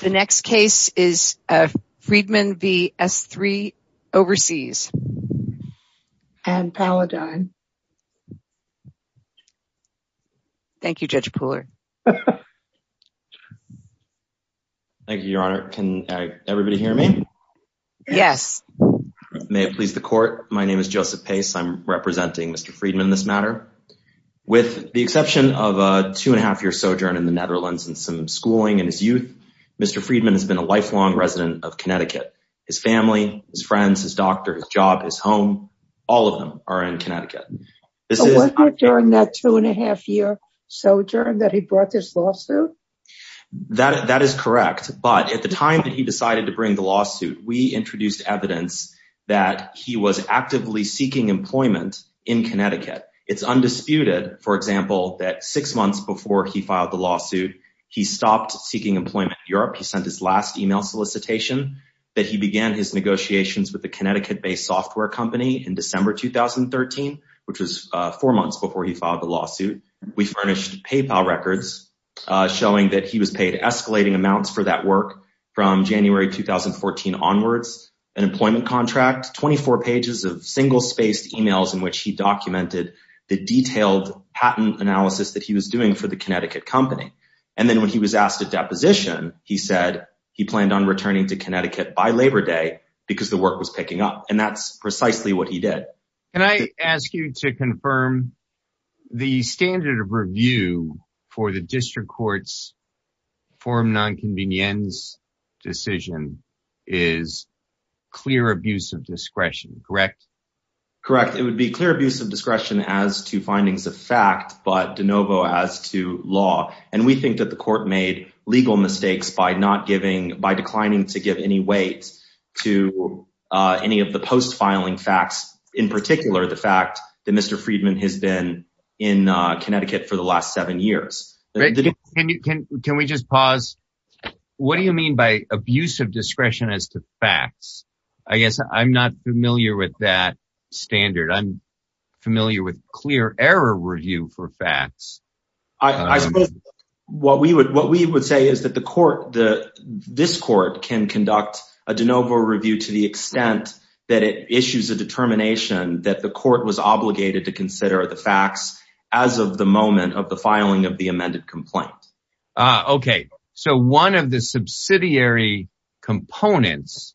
The next case is Friedman v. SThree Overseas and Paladine. Thank you, Judge Pooler. Thank you, Your Honor. Can everybody hear me? Yes. May it please the court. My name is Joseph Pace. I'm representing Mr. Friedman in this matter. With the exception of a two-and-a-half-year sojourn in the Netherlands and some schooling in his youth, Mr. Friedman has been a lifelong resident of Connecticut. His family, his friends, his doctor, his job, his home, all of them are in Connecticut. So was it during that two-and-a-half-year sojourn that he brought this lawsuit? That is correct, but at the time that he decided to bring the lawsuit, we introduced evidence that he was actively seeking employment in Connecticut. It's undisputed, for example, that six months before he filed the lawsuit, he stopped seeking employment in Europe. He sent his last email solicitation that he began his negotiations with a Connecticut-based software company in December 2013, which was four months before he filed the lawsuit. We furnished PayPal records showing that he was paid escalating amounts for that work from January 2014 onwards, an employment contract, 24 pages of single-spaced emails in which he documented the detailed patent analysis that he was doing for the Connecticut company. And then when he was asked to deposition, he said he planned on returning to Connecticut by Labor Day because the work was picking up, and that's precisely what he did. Can I ask you to confirm the standard of review for the District Court's reform nonconvenience decision is clear abuse of discretion, correct? Correct. It would be clear abuse of discretion as to findings of fact, but de novo as to law, and we think that the court made legal mistakes by declining to give any weight to any of the post-filing facts, in particular the fact that Mr. Friedman has been in Connecticut for the last seven years. Can we just pause? What do you mean by abuse of discretion as to facts? I guess I'm not familiar with that standard. I'm familiar with clear error review for facts. I suppose what we would say is that this court can conduct a de novo review to the extent that it issues a determination that the court was obligated to consider the facts as of the moment of the filing of the amended complaint. Okay. So one of the subsidiary components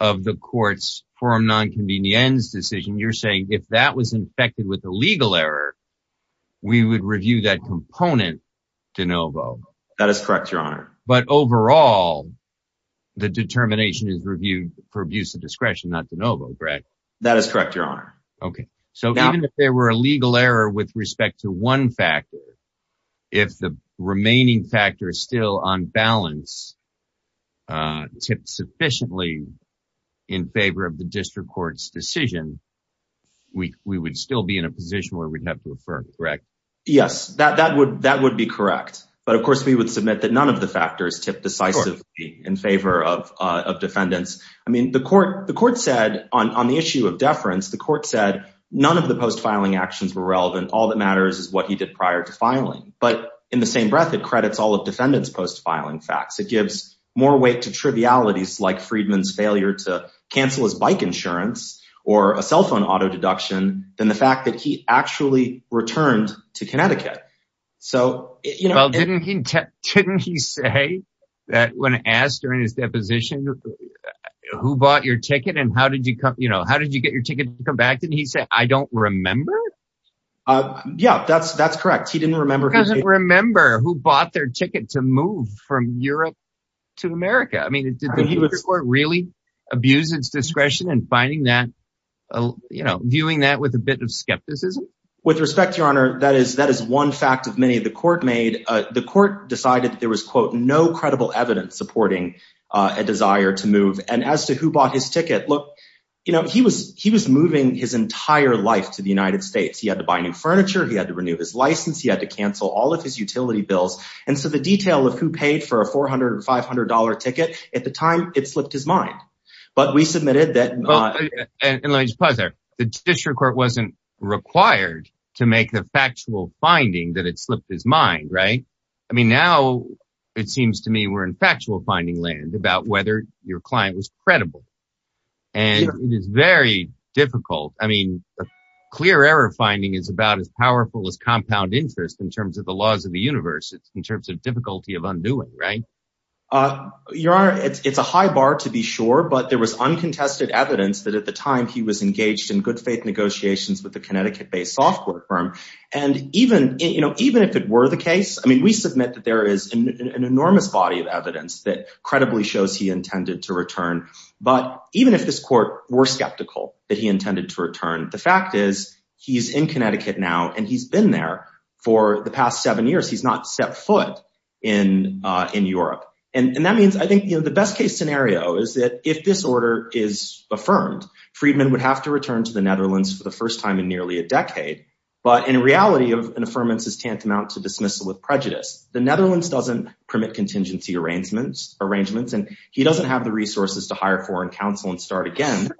of the court's form nonconvenience decision, you're saying if that was infected with a legal error, we would review that component de novo. That is correct, Your Honor. But overall, the determination is reviewed for abuse of discretion, not de novo, correct? That is correct, Your Honor. Okay. So even if there were a legal error with respect to one factor, if the remaining factor is still on balance, tipped sufficiently in favor of the district court's decision, we would still be in a position where we'd have to affirm it, correct? Yes, that would be correct. But of course, we would submit that none of the factors tipped decisively in favor of defendants. I mean, the court said on the issue of deference, the court said none of the post-filing actions were relevant. All that matters is what he did prior to filing. But in the same breath, it credits all of defendants' post-filing facts. It gives more weight to trivialities like Friedman's failure to cancel his bike insurance or a cell phone auto deduction than the fact that he actually returned to Connecticut. Well, didn't he say that when asked during his deposition, who bought your ticket and how did you get your ticket to come back? Didn't he say, I don't remember? Yeah, that's correct. He didn't remember. He doesn't remember who bought their ticket to move from Europe to America. Did the district court really abuse its discretion in finding that, viewing that with a bit of skepticism? With respect, Your Honor, that is one fact of many the court made. The court decided that there was, quote, no credible evidence supporting a desire to move. And as to who bought his ticket, look, he was moving his entire life to the United States. He had to buy new furniture. He had to renew his license. He had to cancel all of his utility bills. And so the detail of who paid for a $400 or $500 ticket, at the time, it slipped his mind. But we submitted that… And let me just pause there. The district court wasn't required to make the factual finding that it slipped his mind, right? I mean, now it seems to me we're in factual finding land about whether your client was credible. And it is very difficult. I mean, a clear error finding is about as powerful as compound interest in terms of the laws of the universe, in terms of difficulty of undoing, right? Your Honor, it's a high bar to be sure, but there was uncontested evidence that at the time he was engaged in good faith negotiations with the Connecticut-based software firm. And even if it were the case, I mean, we submit that there is an enormous body of evidence that credibly shows he intended to return. But even if this court were skeptical that he intended to return, the fact is he's in Connecticut now, and he's been there for the past seven years. He's not set foot in Europe. And that means I think the best case scenario is that if this order is affirmed, Friedman would have to return to the Netherlands for the first time in nearly a decade. But in reality, an affirmance is tantamount to dismissal with prejudice. The Netherlands doesn't permit contingency arrangements, and he doesn't have the resources to hire foreign counsel and start again.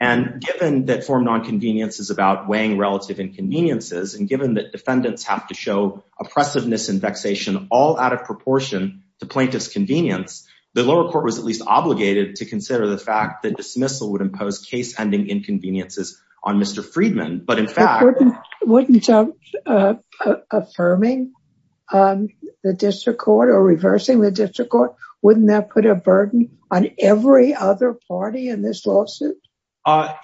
And given that foreign nonconvenience is about weighing relative inconveniences, and given that defendants have to show oppressiveness and vexation all out of proportion to plaintiff's convenience, the lower court was at least obligated to consider the fact that dismissal would impose case-ending inconveniences on Mr. Friedman. But in fact... But wouldn't affirming the district court or reversing the district court, wouldn't that put a burden on every other party in this lawsuit?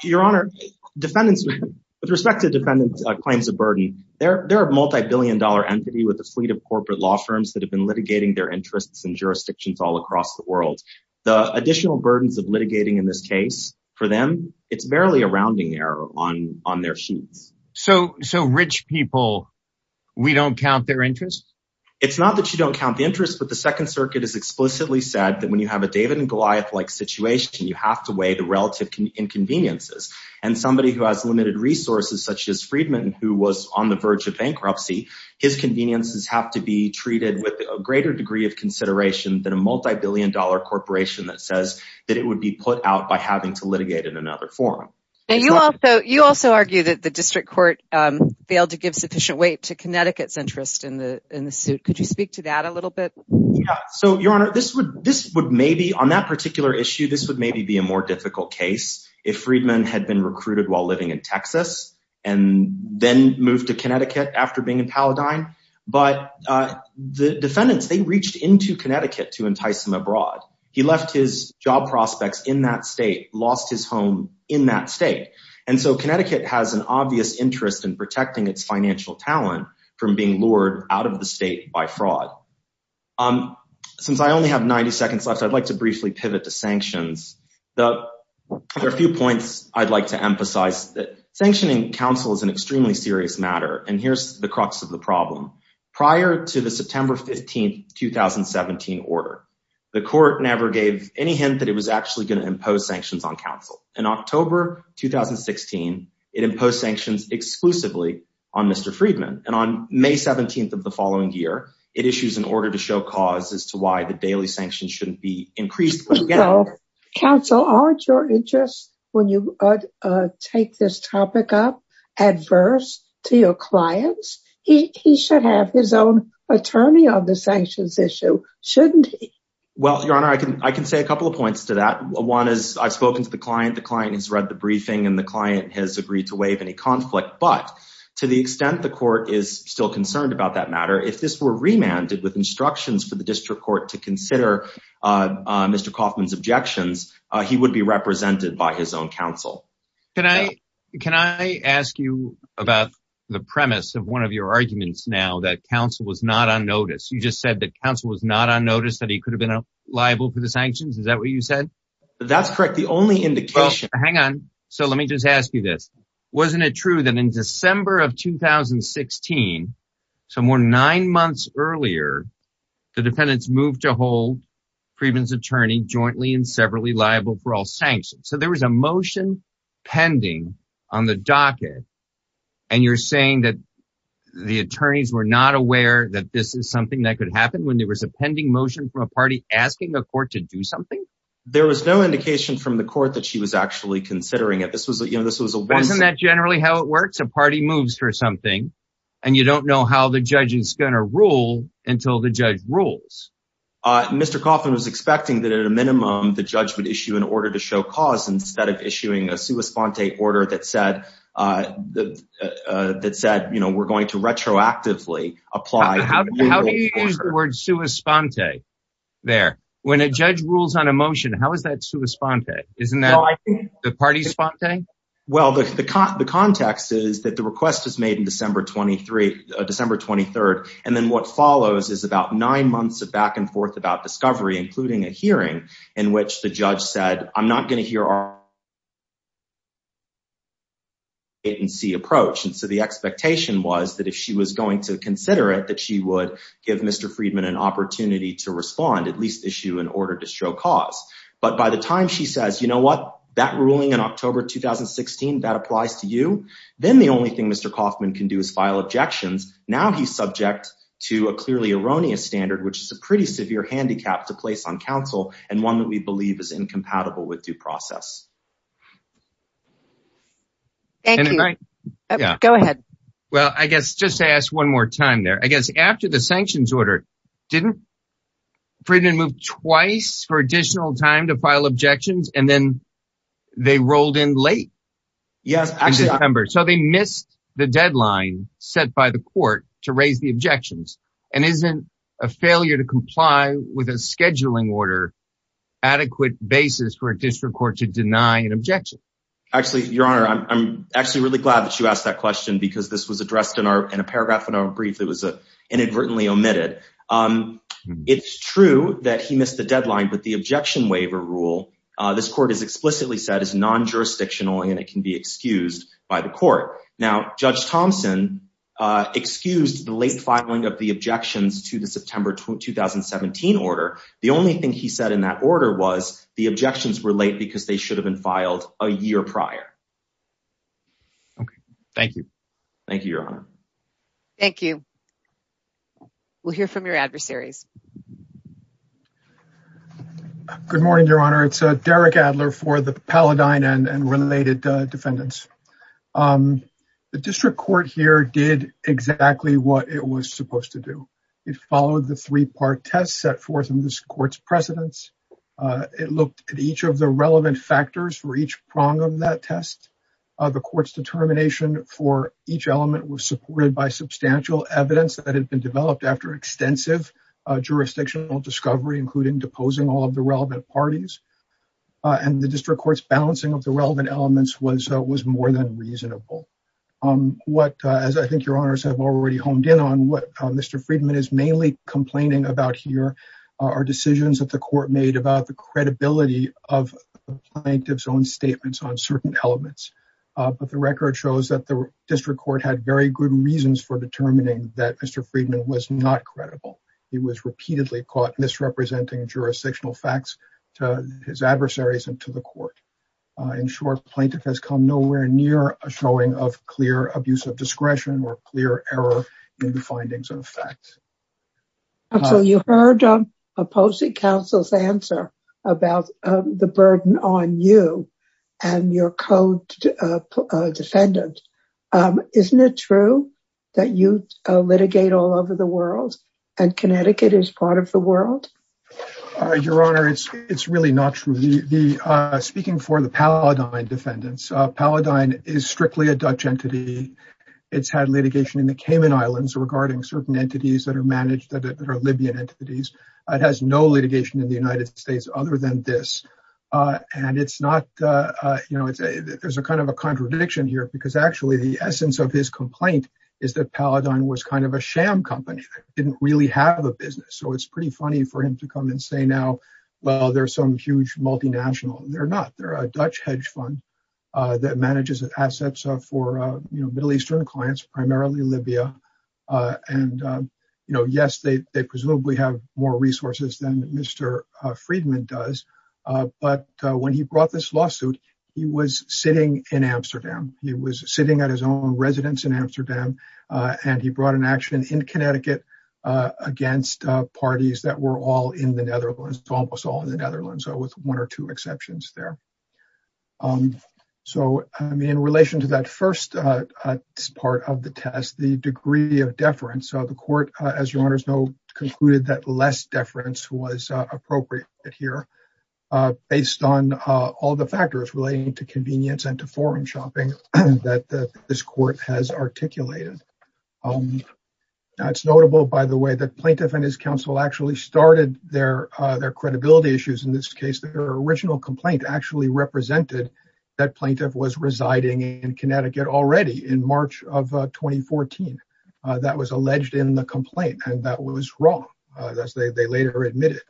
Your Honor, defendants... With respect to defendants' claims of burden, there are a multibillion-dollar entity with a fleet of corporate law firms that have been litigating their interests across the world. The additional burdens of litigating in this case, for them, it's barely a rounding error on their sheets. So rich people, we don't count their interests? It's not that you don't count the interests, but the Second Circuit has explicitly said that when you have a David and Goliath-like situation, you have to weigh the relative inconveniences. And somebody who has limited resources, such as Friedman, who was on the verge of bankruptcy, his conveniences have to be treated with a greater degree of consideration than a multibillion-dollar corporation that says that it would be put out by having to litigate in another forum. You also argue that the district court failed to give sufficient weight to Connecticut's interest in the suit. Could you speak to that a little bit? Yeah. So, Your Honor, on that particular issue, this would maybe be a more difficult case if Friedman had been recruited while living in Texas and then moved to Connecticut after being in Paladine. But the defendants, were not allowed to move abroad. He left his job prospects in that state, lost his home in that state. And so Connecticut has an obvious interest in protecting its financial talent from being lured out of the state by fraud. Since I only have 90 seconds left, I'd like to briefly pivot to sanctions. There are a few points I'd like to emphasize. Sanctioning counsel is an extremely serious matter, and here's the crux of the problem. Prior to the September 15th, 2017 order, the court never gave any hint that it was actually going to impose sanctions on counsel. In October 2016, it imposed sanctions exclusively on Mr. Friedman. And on May 17th of the following year, it issues an order to show cause as to why the daily sanctions shouldn't be increased again. Counsel, aren't your interests when you take this topic up adverse to your clients? He should have his own attorney on the sanctions issue, shouldn't he? Well, Your Honor, I can say a couple of points to that. One is I've spoken to the client. The client has read the briefing, and the client has agreed to waive any conflict. But to the extent the court is still concerned about that matter, if this were remanded with instructions for the district court to consider Mr. Kaufman's objections, he would be represented by his own counsel. Can I ask you about the premise of one of your arguments now that counsel was not on notice? You just said that counsel was not on notice that he could have been liable for the sanctions. Is that what you said? That's correct. The only indication... Well, hang on. So let me just ask you this. Wasn't it true that in December of 2016, somewhere nine months earlier, the defendants moved to hold Friedman's attorney jointly and severally liable for all sanctions? So there was a motion pending on the docket, and you're saying that the attorneys were not aware that this is something that could happen when there was a pending motion from a party asking the court to do something? There was no indication from the court that she was actually considering it. Wasn't that generally how it works? A party moves for something, and you don't know how the judge is going to rule until the judge rules. Mr. Kaufman was expecting that at a minimum, the judge would issue an order to show cause instead of issuing a sua sponte order that said, you know, we're going to retroactively apply... How do you use the word sua sponte there? When a judge rules on a motion, how is that sua sponte? Isn't that the party's sponte? Well, the context is that the request was made on December 23rd, and then what follows is about nine months of back and forth about discovery, including a hearing in which the judge said, I'm not going to hear our... ...it and see approach. And so the expectation was that if she was going to consider it, that she would give Mr. Friedman an opportunity to respond, at least issue an order to show cause. But by the time she says, you know what, that ruling in October 2016, that applies to you, then the only thing Mr. Kaufman can do is file objections. Now he's subject to a clearly erroneous standard, which is a pretty severe handicap to place on counsel with due process. Thank you. Go ahead. Well, I guess just to ask one more time there, I guess after the sanctions order, didn't Friedman move twice for additional time to file objections and then they rolled in late? Yes. So they missed the deadline set by the court to raise the objections and isn't a failure to comply with a scheduling order on an adequate basis for a district court to deny an objection? Actually, Your Honor, I'm actually really glad that you asked that question because this was addressed in a paragraph in our brief that was inadvertently omitted. It's true that he missed the deadline, but the objection waiver rule, this court has explicitly said, is non-jurisdictional and it can be excused by the court. Now, Judge Thompson excused the late filing of the objections because what happened in that order was the objections were late because they should have been filed a year prior. Okay. Thank you. Thank you, Your Honor. Thank you. We'll hear from your adversaries. Good morning, Your Honor. It's Derek Adler for the Paladine and related defendants. The district court here did exactly what it was supposed to do. It followed the three-part test and it looked at each of the relevant factors for each prong of that test. The court's determination for each element was supported by substantial evidence that had been developed after extensive jurisdictional discovery, including deposing all of the relevant parties. And the district court's balancing of the relevant elements was more than reasonable. What, as I think Your Honors have already honed in on, what Mr. Friedman is mainly concerned about is the credibility of the plaintiff's own statements on certain elements. But the record shows that the district court had very good reasons for determining that Mr. Friedman was not credible. He was repeatedly caught misrepresenting jurisdictional facts to his adversaries and to the court. nowhere near a showing of clear abuse of discretion or clear error in the findings of facts. Counsel, you heard a Post-it Counsel's answer about the burden on you and your co-defendant. Isn't it true that you litigate all over the world and Connecticut is part of the world? Your Honor, it's really not true. Speaking for the Paladine defendants, Paladine is strictly a Dutch entity. It's had litigation in the Cayman Islands regarding certain entities that are managed, that are Libyan entities. It has no litigation in the United States other than this. And it's not, there's a kind of a contradiction here because actually the essence of his complaint is that Paladine was kind of a sham company that didn't really have a business. So it's pretty funny for him to come and say now, well, there's some huge multinational. They're not. They're a Dutch hedge fund that manages assets for Middle Eastern clients, primarily Libya. And yes, they presumably have more resources than Mr. Friedman does. But when he brought this lawsuit, he was sitting in Amsterdam. He was sitting at his own residence in Amsterdam and he brought an action in Connecticut against parties that were all in the Netherlands, almost all in the Netherlands with one or two exceptions there. So, I mean, in relation to that first part of the test, the degree of deference. So the court, as your honors know, concluded that less deference was appropriate here based on all the factors relating to convenience and to foreign shopping that this court has articulated. That's notable by the way that plaintiff and his counsel actually started their credibility issues. In this case, their original complaint actually represented that plaintiff was residing in Connecticut already in March of 2014. That was alleged in the complaint and that was wrong, as they later admitted.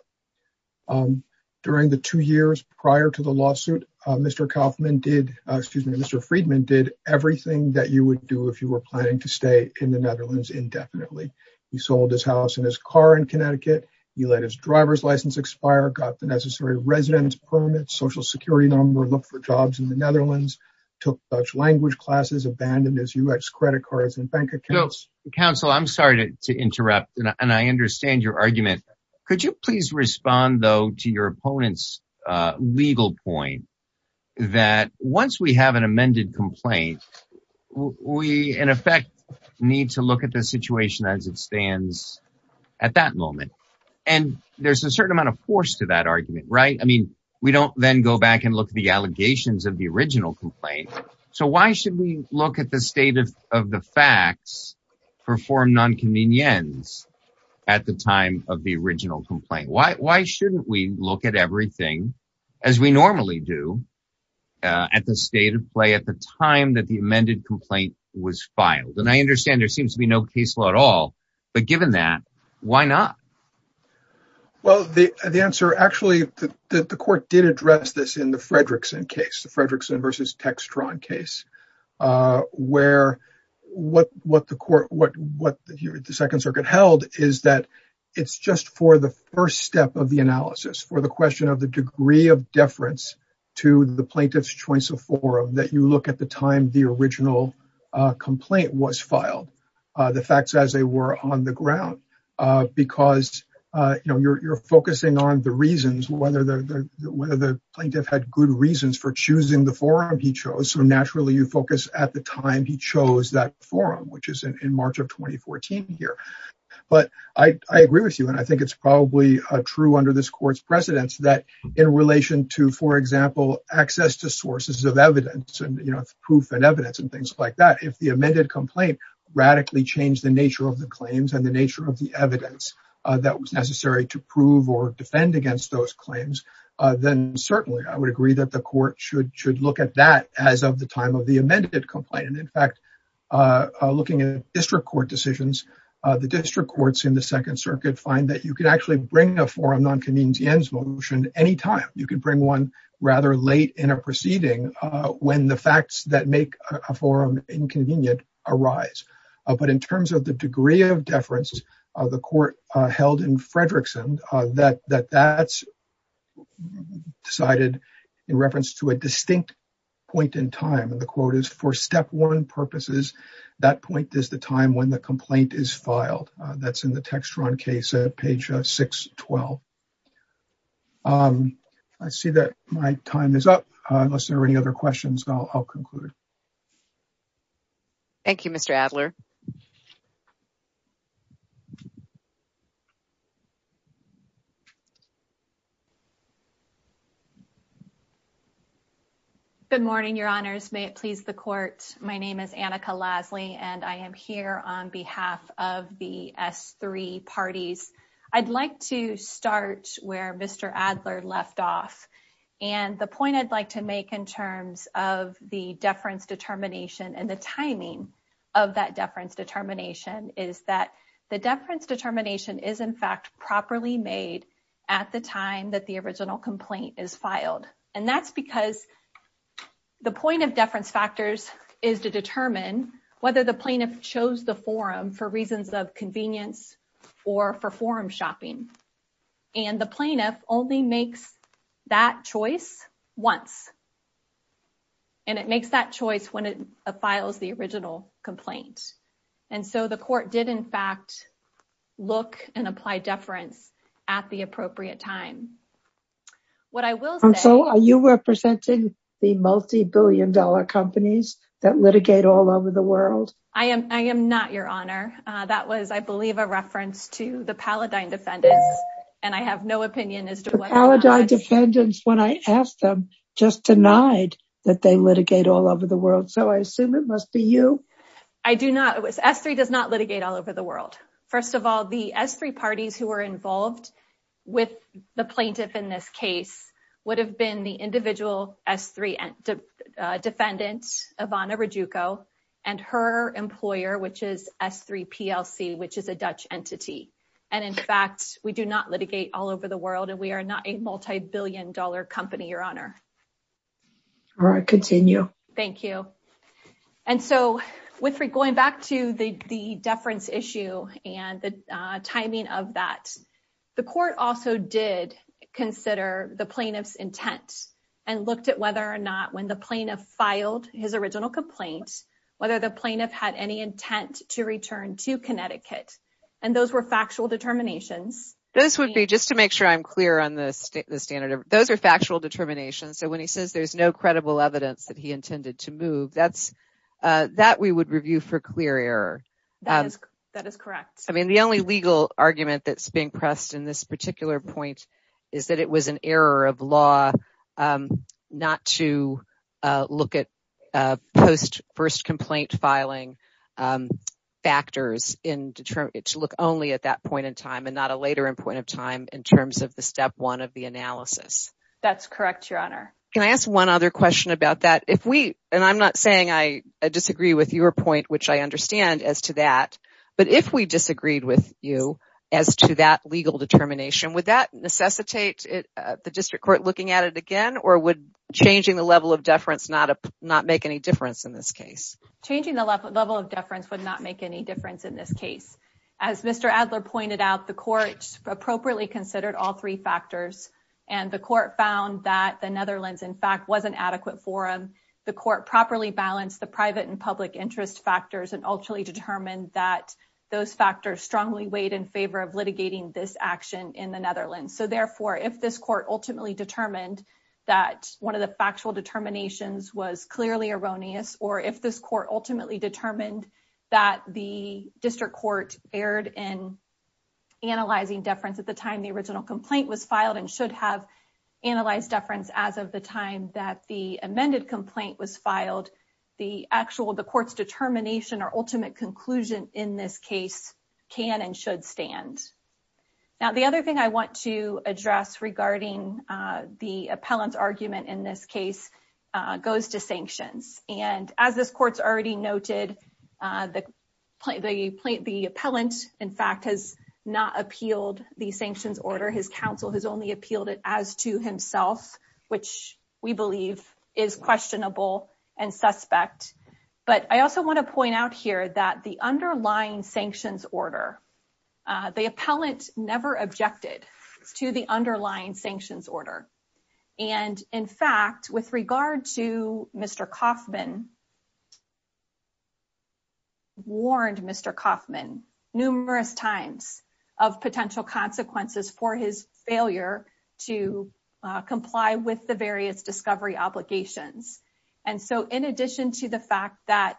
During the two years prior to the lawsuit, Mr. Kaufman did, excuse me, Mr. Friedman did everything that you would do if you were planning to stay in the Netherlands indefinitely. He sold his house and his car in Connecticut. He let his driver's license expire, got the necessary residence permit, social security number, looked for jobs in the Netherlands, took Dutch language classes, abandoned his U.S. credit cards and bank accounts. Counsel, I'm sorry to interrupt and I understand your argument. Could you please respond though to your opponent's legal point that once we have an amended complaint, we in effect need to look at the situation as it stands at that moment. There's a certain amount of force to that argument, right? We don't then go back and look at the allegations of the original complaint. So why should we look at the state of the facts for foreign nonconvenience at the time of the original complaint? Why shouldn't we look at everything as we normally do at the state of play at the time that the amended complaint was filed? And I understand there seems to be no case law at all, but given that, why not? Well, the answer actually that the court did address this in the Fredrickson case, the Fredrickson versus Textron case, where what the court, what the Second Circuit held is that it's just for the first step of the analysis, for the question of the degree of deference to the plaintiff's choice of forum that you look at the time the original complaint was filed. The facts as they were on the ground because you're focusing on the reasons whether the plaintiff had good reasons for choosing the forum he chose, so naturally you focus at the time he chose that forum, which is in March of 2014 here. But I agree with you and I think it's probably true under this court's precedence that in relation to, for example, access to sources of evidence and proof and evidence and things like that, if the amended complaint radically changed the nature of the claims and the nature of the evidence that was necessary to prove or defend against those claims, then certainly I would agree that the court should look at that as of the time of the amended complaint. In fact, looking at district court decisions, the district courts in the Second Circuit find that you can actually bring a forum non-convenience motion any time. You can bring one rather late in a proceeding when the facts that make a forum inconvenient arise. But in terms of the degree of deference the court held in Fredrickson, that that's decided in reference to a distinct point in time. And the quote is, for Step 1 purposes, that point is the time when the complaint is filed. That's in the Textron case at page 612. I see that my time is up. Unless there are any other questions, I'll conclude. Thank you, Mr. Adler. Good morning, Your Honors. May it please the court. My name is Annika Lasley, and I am here on behalf of the S3 parties. I'd like to start where Mr. Adler left And the point I'd like to make in terms of the deference determination and the timing of that deference determination is that the deference determination is in fact properly made at the time that the original complaint is filed. And that's because the point of deference factors is to determine whether the plaintiff chose the forum for reasons of convenience or for forum shopping. And the plaintiff only makes that choice once. And it makes that choice when it files the original complaint. And so the court did in fact look and apply deference at the appropriate time. Are you representing the multi-billion dollar companies that litigate all over the world? I am not your honor. That was I believe a reference to the Paladine defendants. The Paladine defendants when I asked them just denied that they litigate all over the world. So I assume it must be you. S3 does not litigate all over the world. First of all, the S3 parties involved would have been the individual S3 defendants and her employer which is S3 PLC which is a multi-billion dollar company, your honor. Thank you. Going back to the deference issue and the timing of that, the court also did consider the plaintiff's intent and looked at whether or not when the plaintiff filed his original complaint, whether the plaintiff had any intent to move the case, he had no evidence that he intended to move. That we would review for clear error. The only legal argument that's being pressed in this particular point is it was an error of law not to look at post first complaint filing factors to look only at that point in time and not a later point in time. Can I ask one other question about that? I'm not saying I disagree with your point but if we disagreed with you as to that legal determination would that necessitate the district court looking at it again or would changing the level of deference would not make any difference in this case? As Mr. Adler pointed out the court considered all three factors and the court found that the Netherlands wasn't adequate for him. The court properly balanced the private and public interest factors and ultimately determined that those factors were erroneous and the court strongly weighed in favor of litigating this action in the Netherlands. If this court ultimately determined that one of the factual determinations was clearly erroneous or if this court ultimately determined that the district court was erroneous and should have analyzed deference as of the time that the amended complaint was filed, the determination or ultimate conclusion in this case can and should stand. The other thing I want to address regarding the appellant's argument in this case goes to the the appellant in fact has not appealed the sanctions order. His counsel has only appealed it as to himself, which we believe is questionable and suspect. But I also want to point out here that the underlying sanctions order, the appellant never objected to the sanctions appellant has had numerous times of potential consequences for his failure to comply with the various discovery obligations. And so in addition to the fact that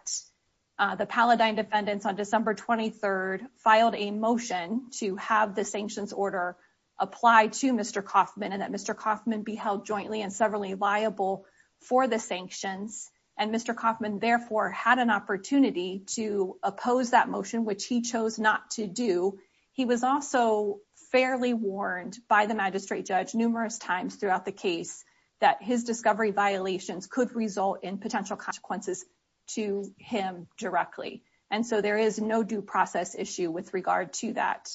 the paladine defendants on December 23rd filed a motion to have the sanctions order apply to Mr. Kaufman and that Mr. Kaufman be held jointly and severally liable for the sanctions. And Mr. Kaufman therefore had an opportunity to oppose that motion, which he chose not to do. He was also fairly warned by the magistrate judge numerous times throughout the case that his discovery violations could result in potential consequences to him directly. And so there is no due process issue with regard to that.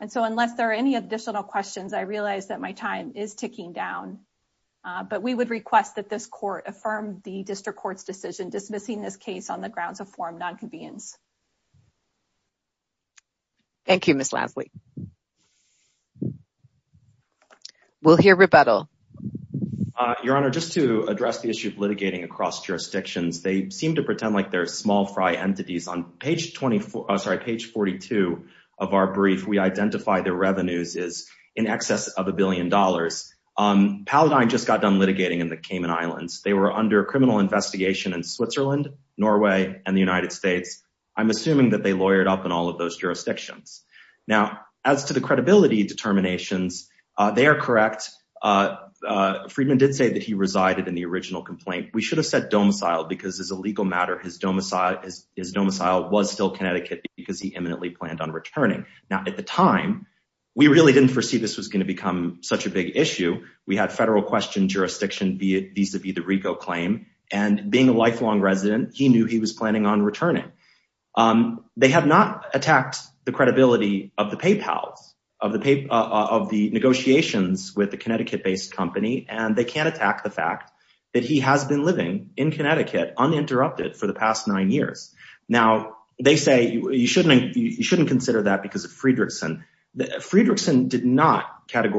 And so unless there are any additional questions, I realize that my time is ticking down. But we would request that this court affirm the district court's decision dismissing this case on the grounds of form nonconvenience. Thank you, Ms. Lasley. We'll hear rebuttal. Your Honor, just to address the issue of litigating across jurisdictions, they seem to pretend like they're small fry entities. On page 42 of our brief, we identify their revenues as in excess of $1.5 billion. And we're assuming that they lawyered up in all of those jurisdictions. As to the credibility determinations, they are correct. We should have said domicile because as a legal matter his domicile was still Connecticut because he planned on returning. At the time, we knew he was planning on returning. They have not attacked the credibility of the negotiations with the Connecticut-based company and they can't attack the fact that he has been living in Connecticut uninterrupted for the past nine years. Now, they say you shouldn't consider that because of Friedrichson. Friedrichson did not say that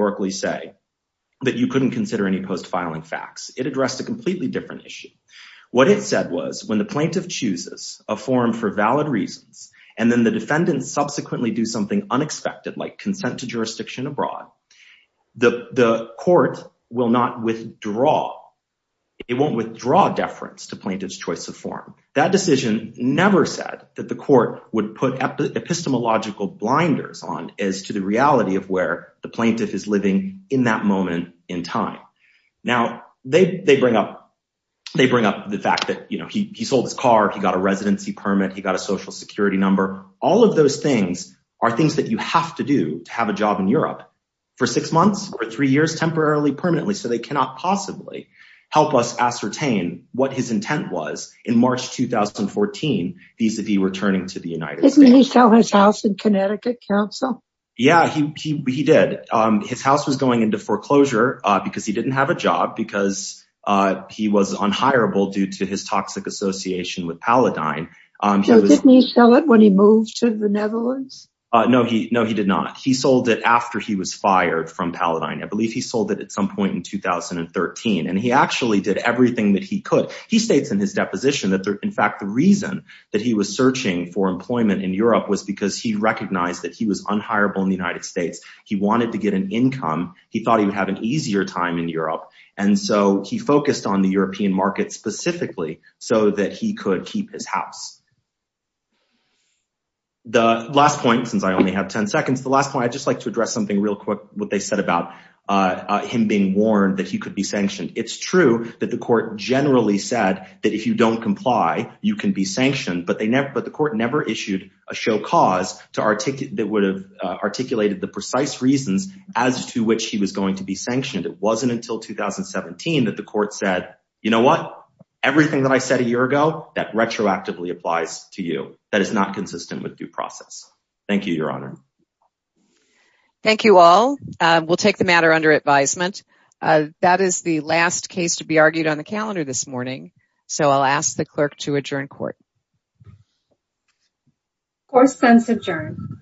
the plaintiff chooses a form for valid reasons and the defendant subsequently does something unexpected like consent to jurisdiction abroad, the court will not withdraw deference to the plaintiff's choice of form. That decision never said that the court would put epistemological blinders on as to the reality of where the plaintiff is living in that moment in time. Now, they bring up the fact that he sold his car, he got a residency permit, he got a social security number. All of those things are things that you have to do to have a job in Europe. So they cannot possibly help us ascertain what his intent was in March 2014. Didn't he sell his house in Connecticut council? Yeah, he did. His house was going into foreclosure because he wanted to Did he sell his house in the Netherlands? No, he did not. He sold it after he was fired from Paladine. I believe he sold it in 2013. He states in his deposition that the reason he was searching for employment in Europe was because he recognized that he was unhireable in the United States. He wanted to get an income. He focused on the European market specifically so he could keep his house. The last point, I would like to address something real quick about him being warned that he could be sanctioned. The court never issued a show cause that articulated the precise reasons he was going to be sanctioned. It wasn't until 2017 that the court said everything I said a year ago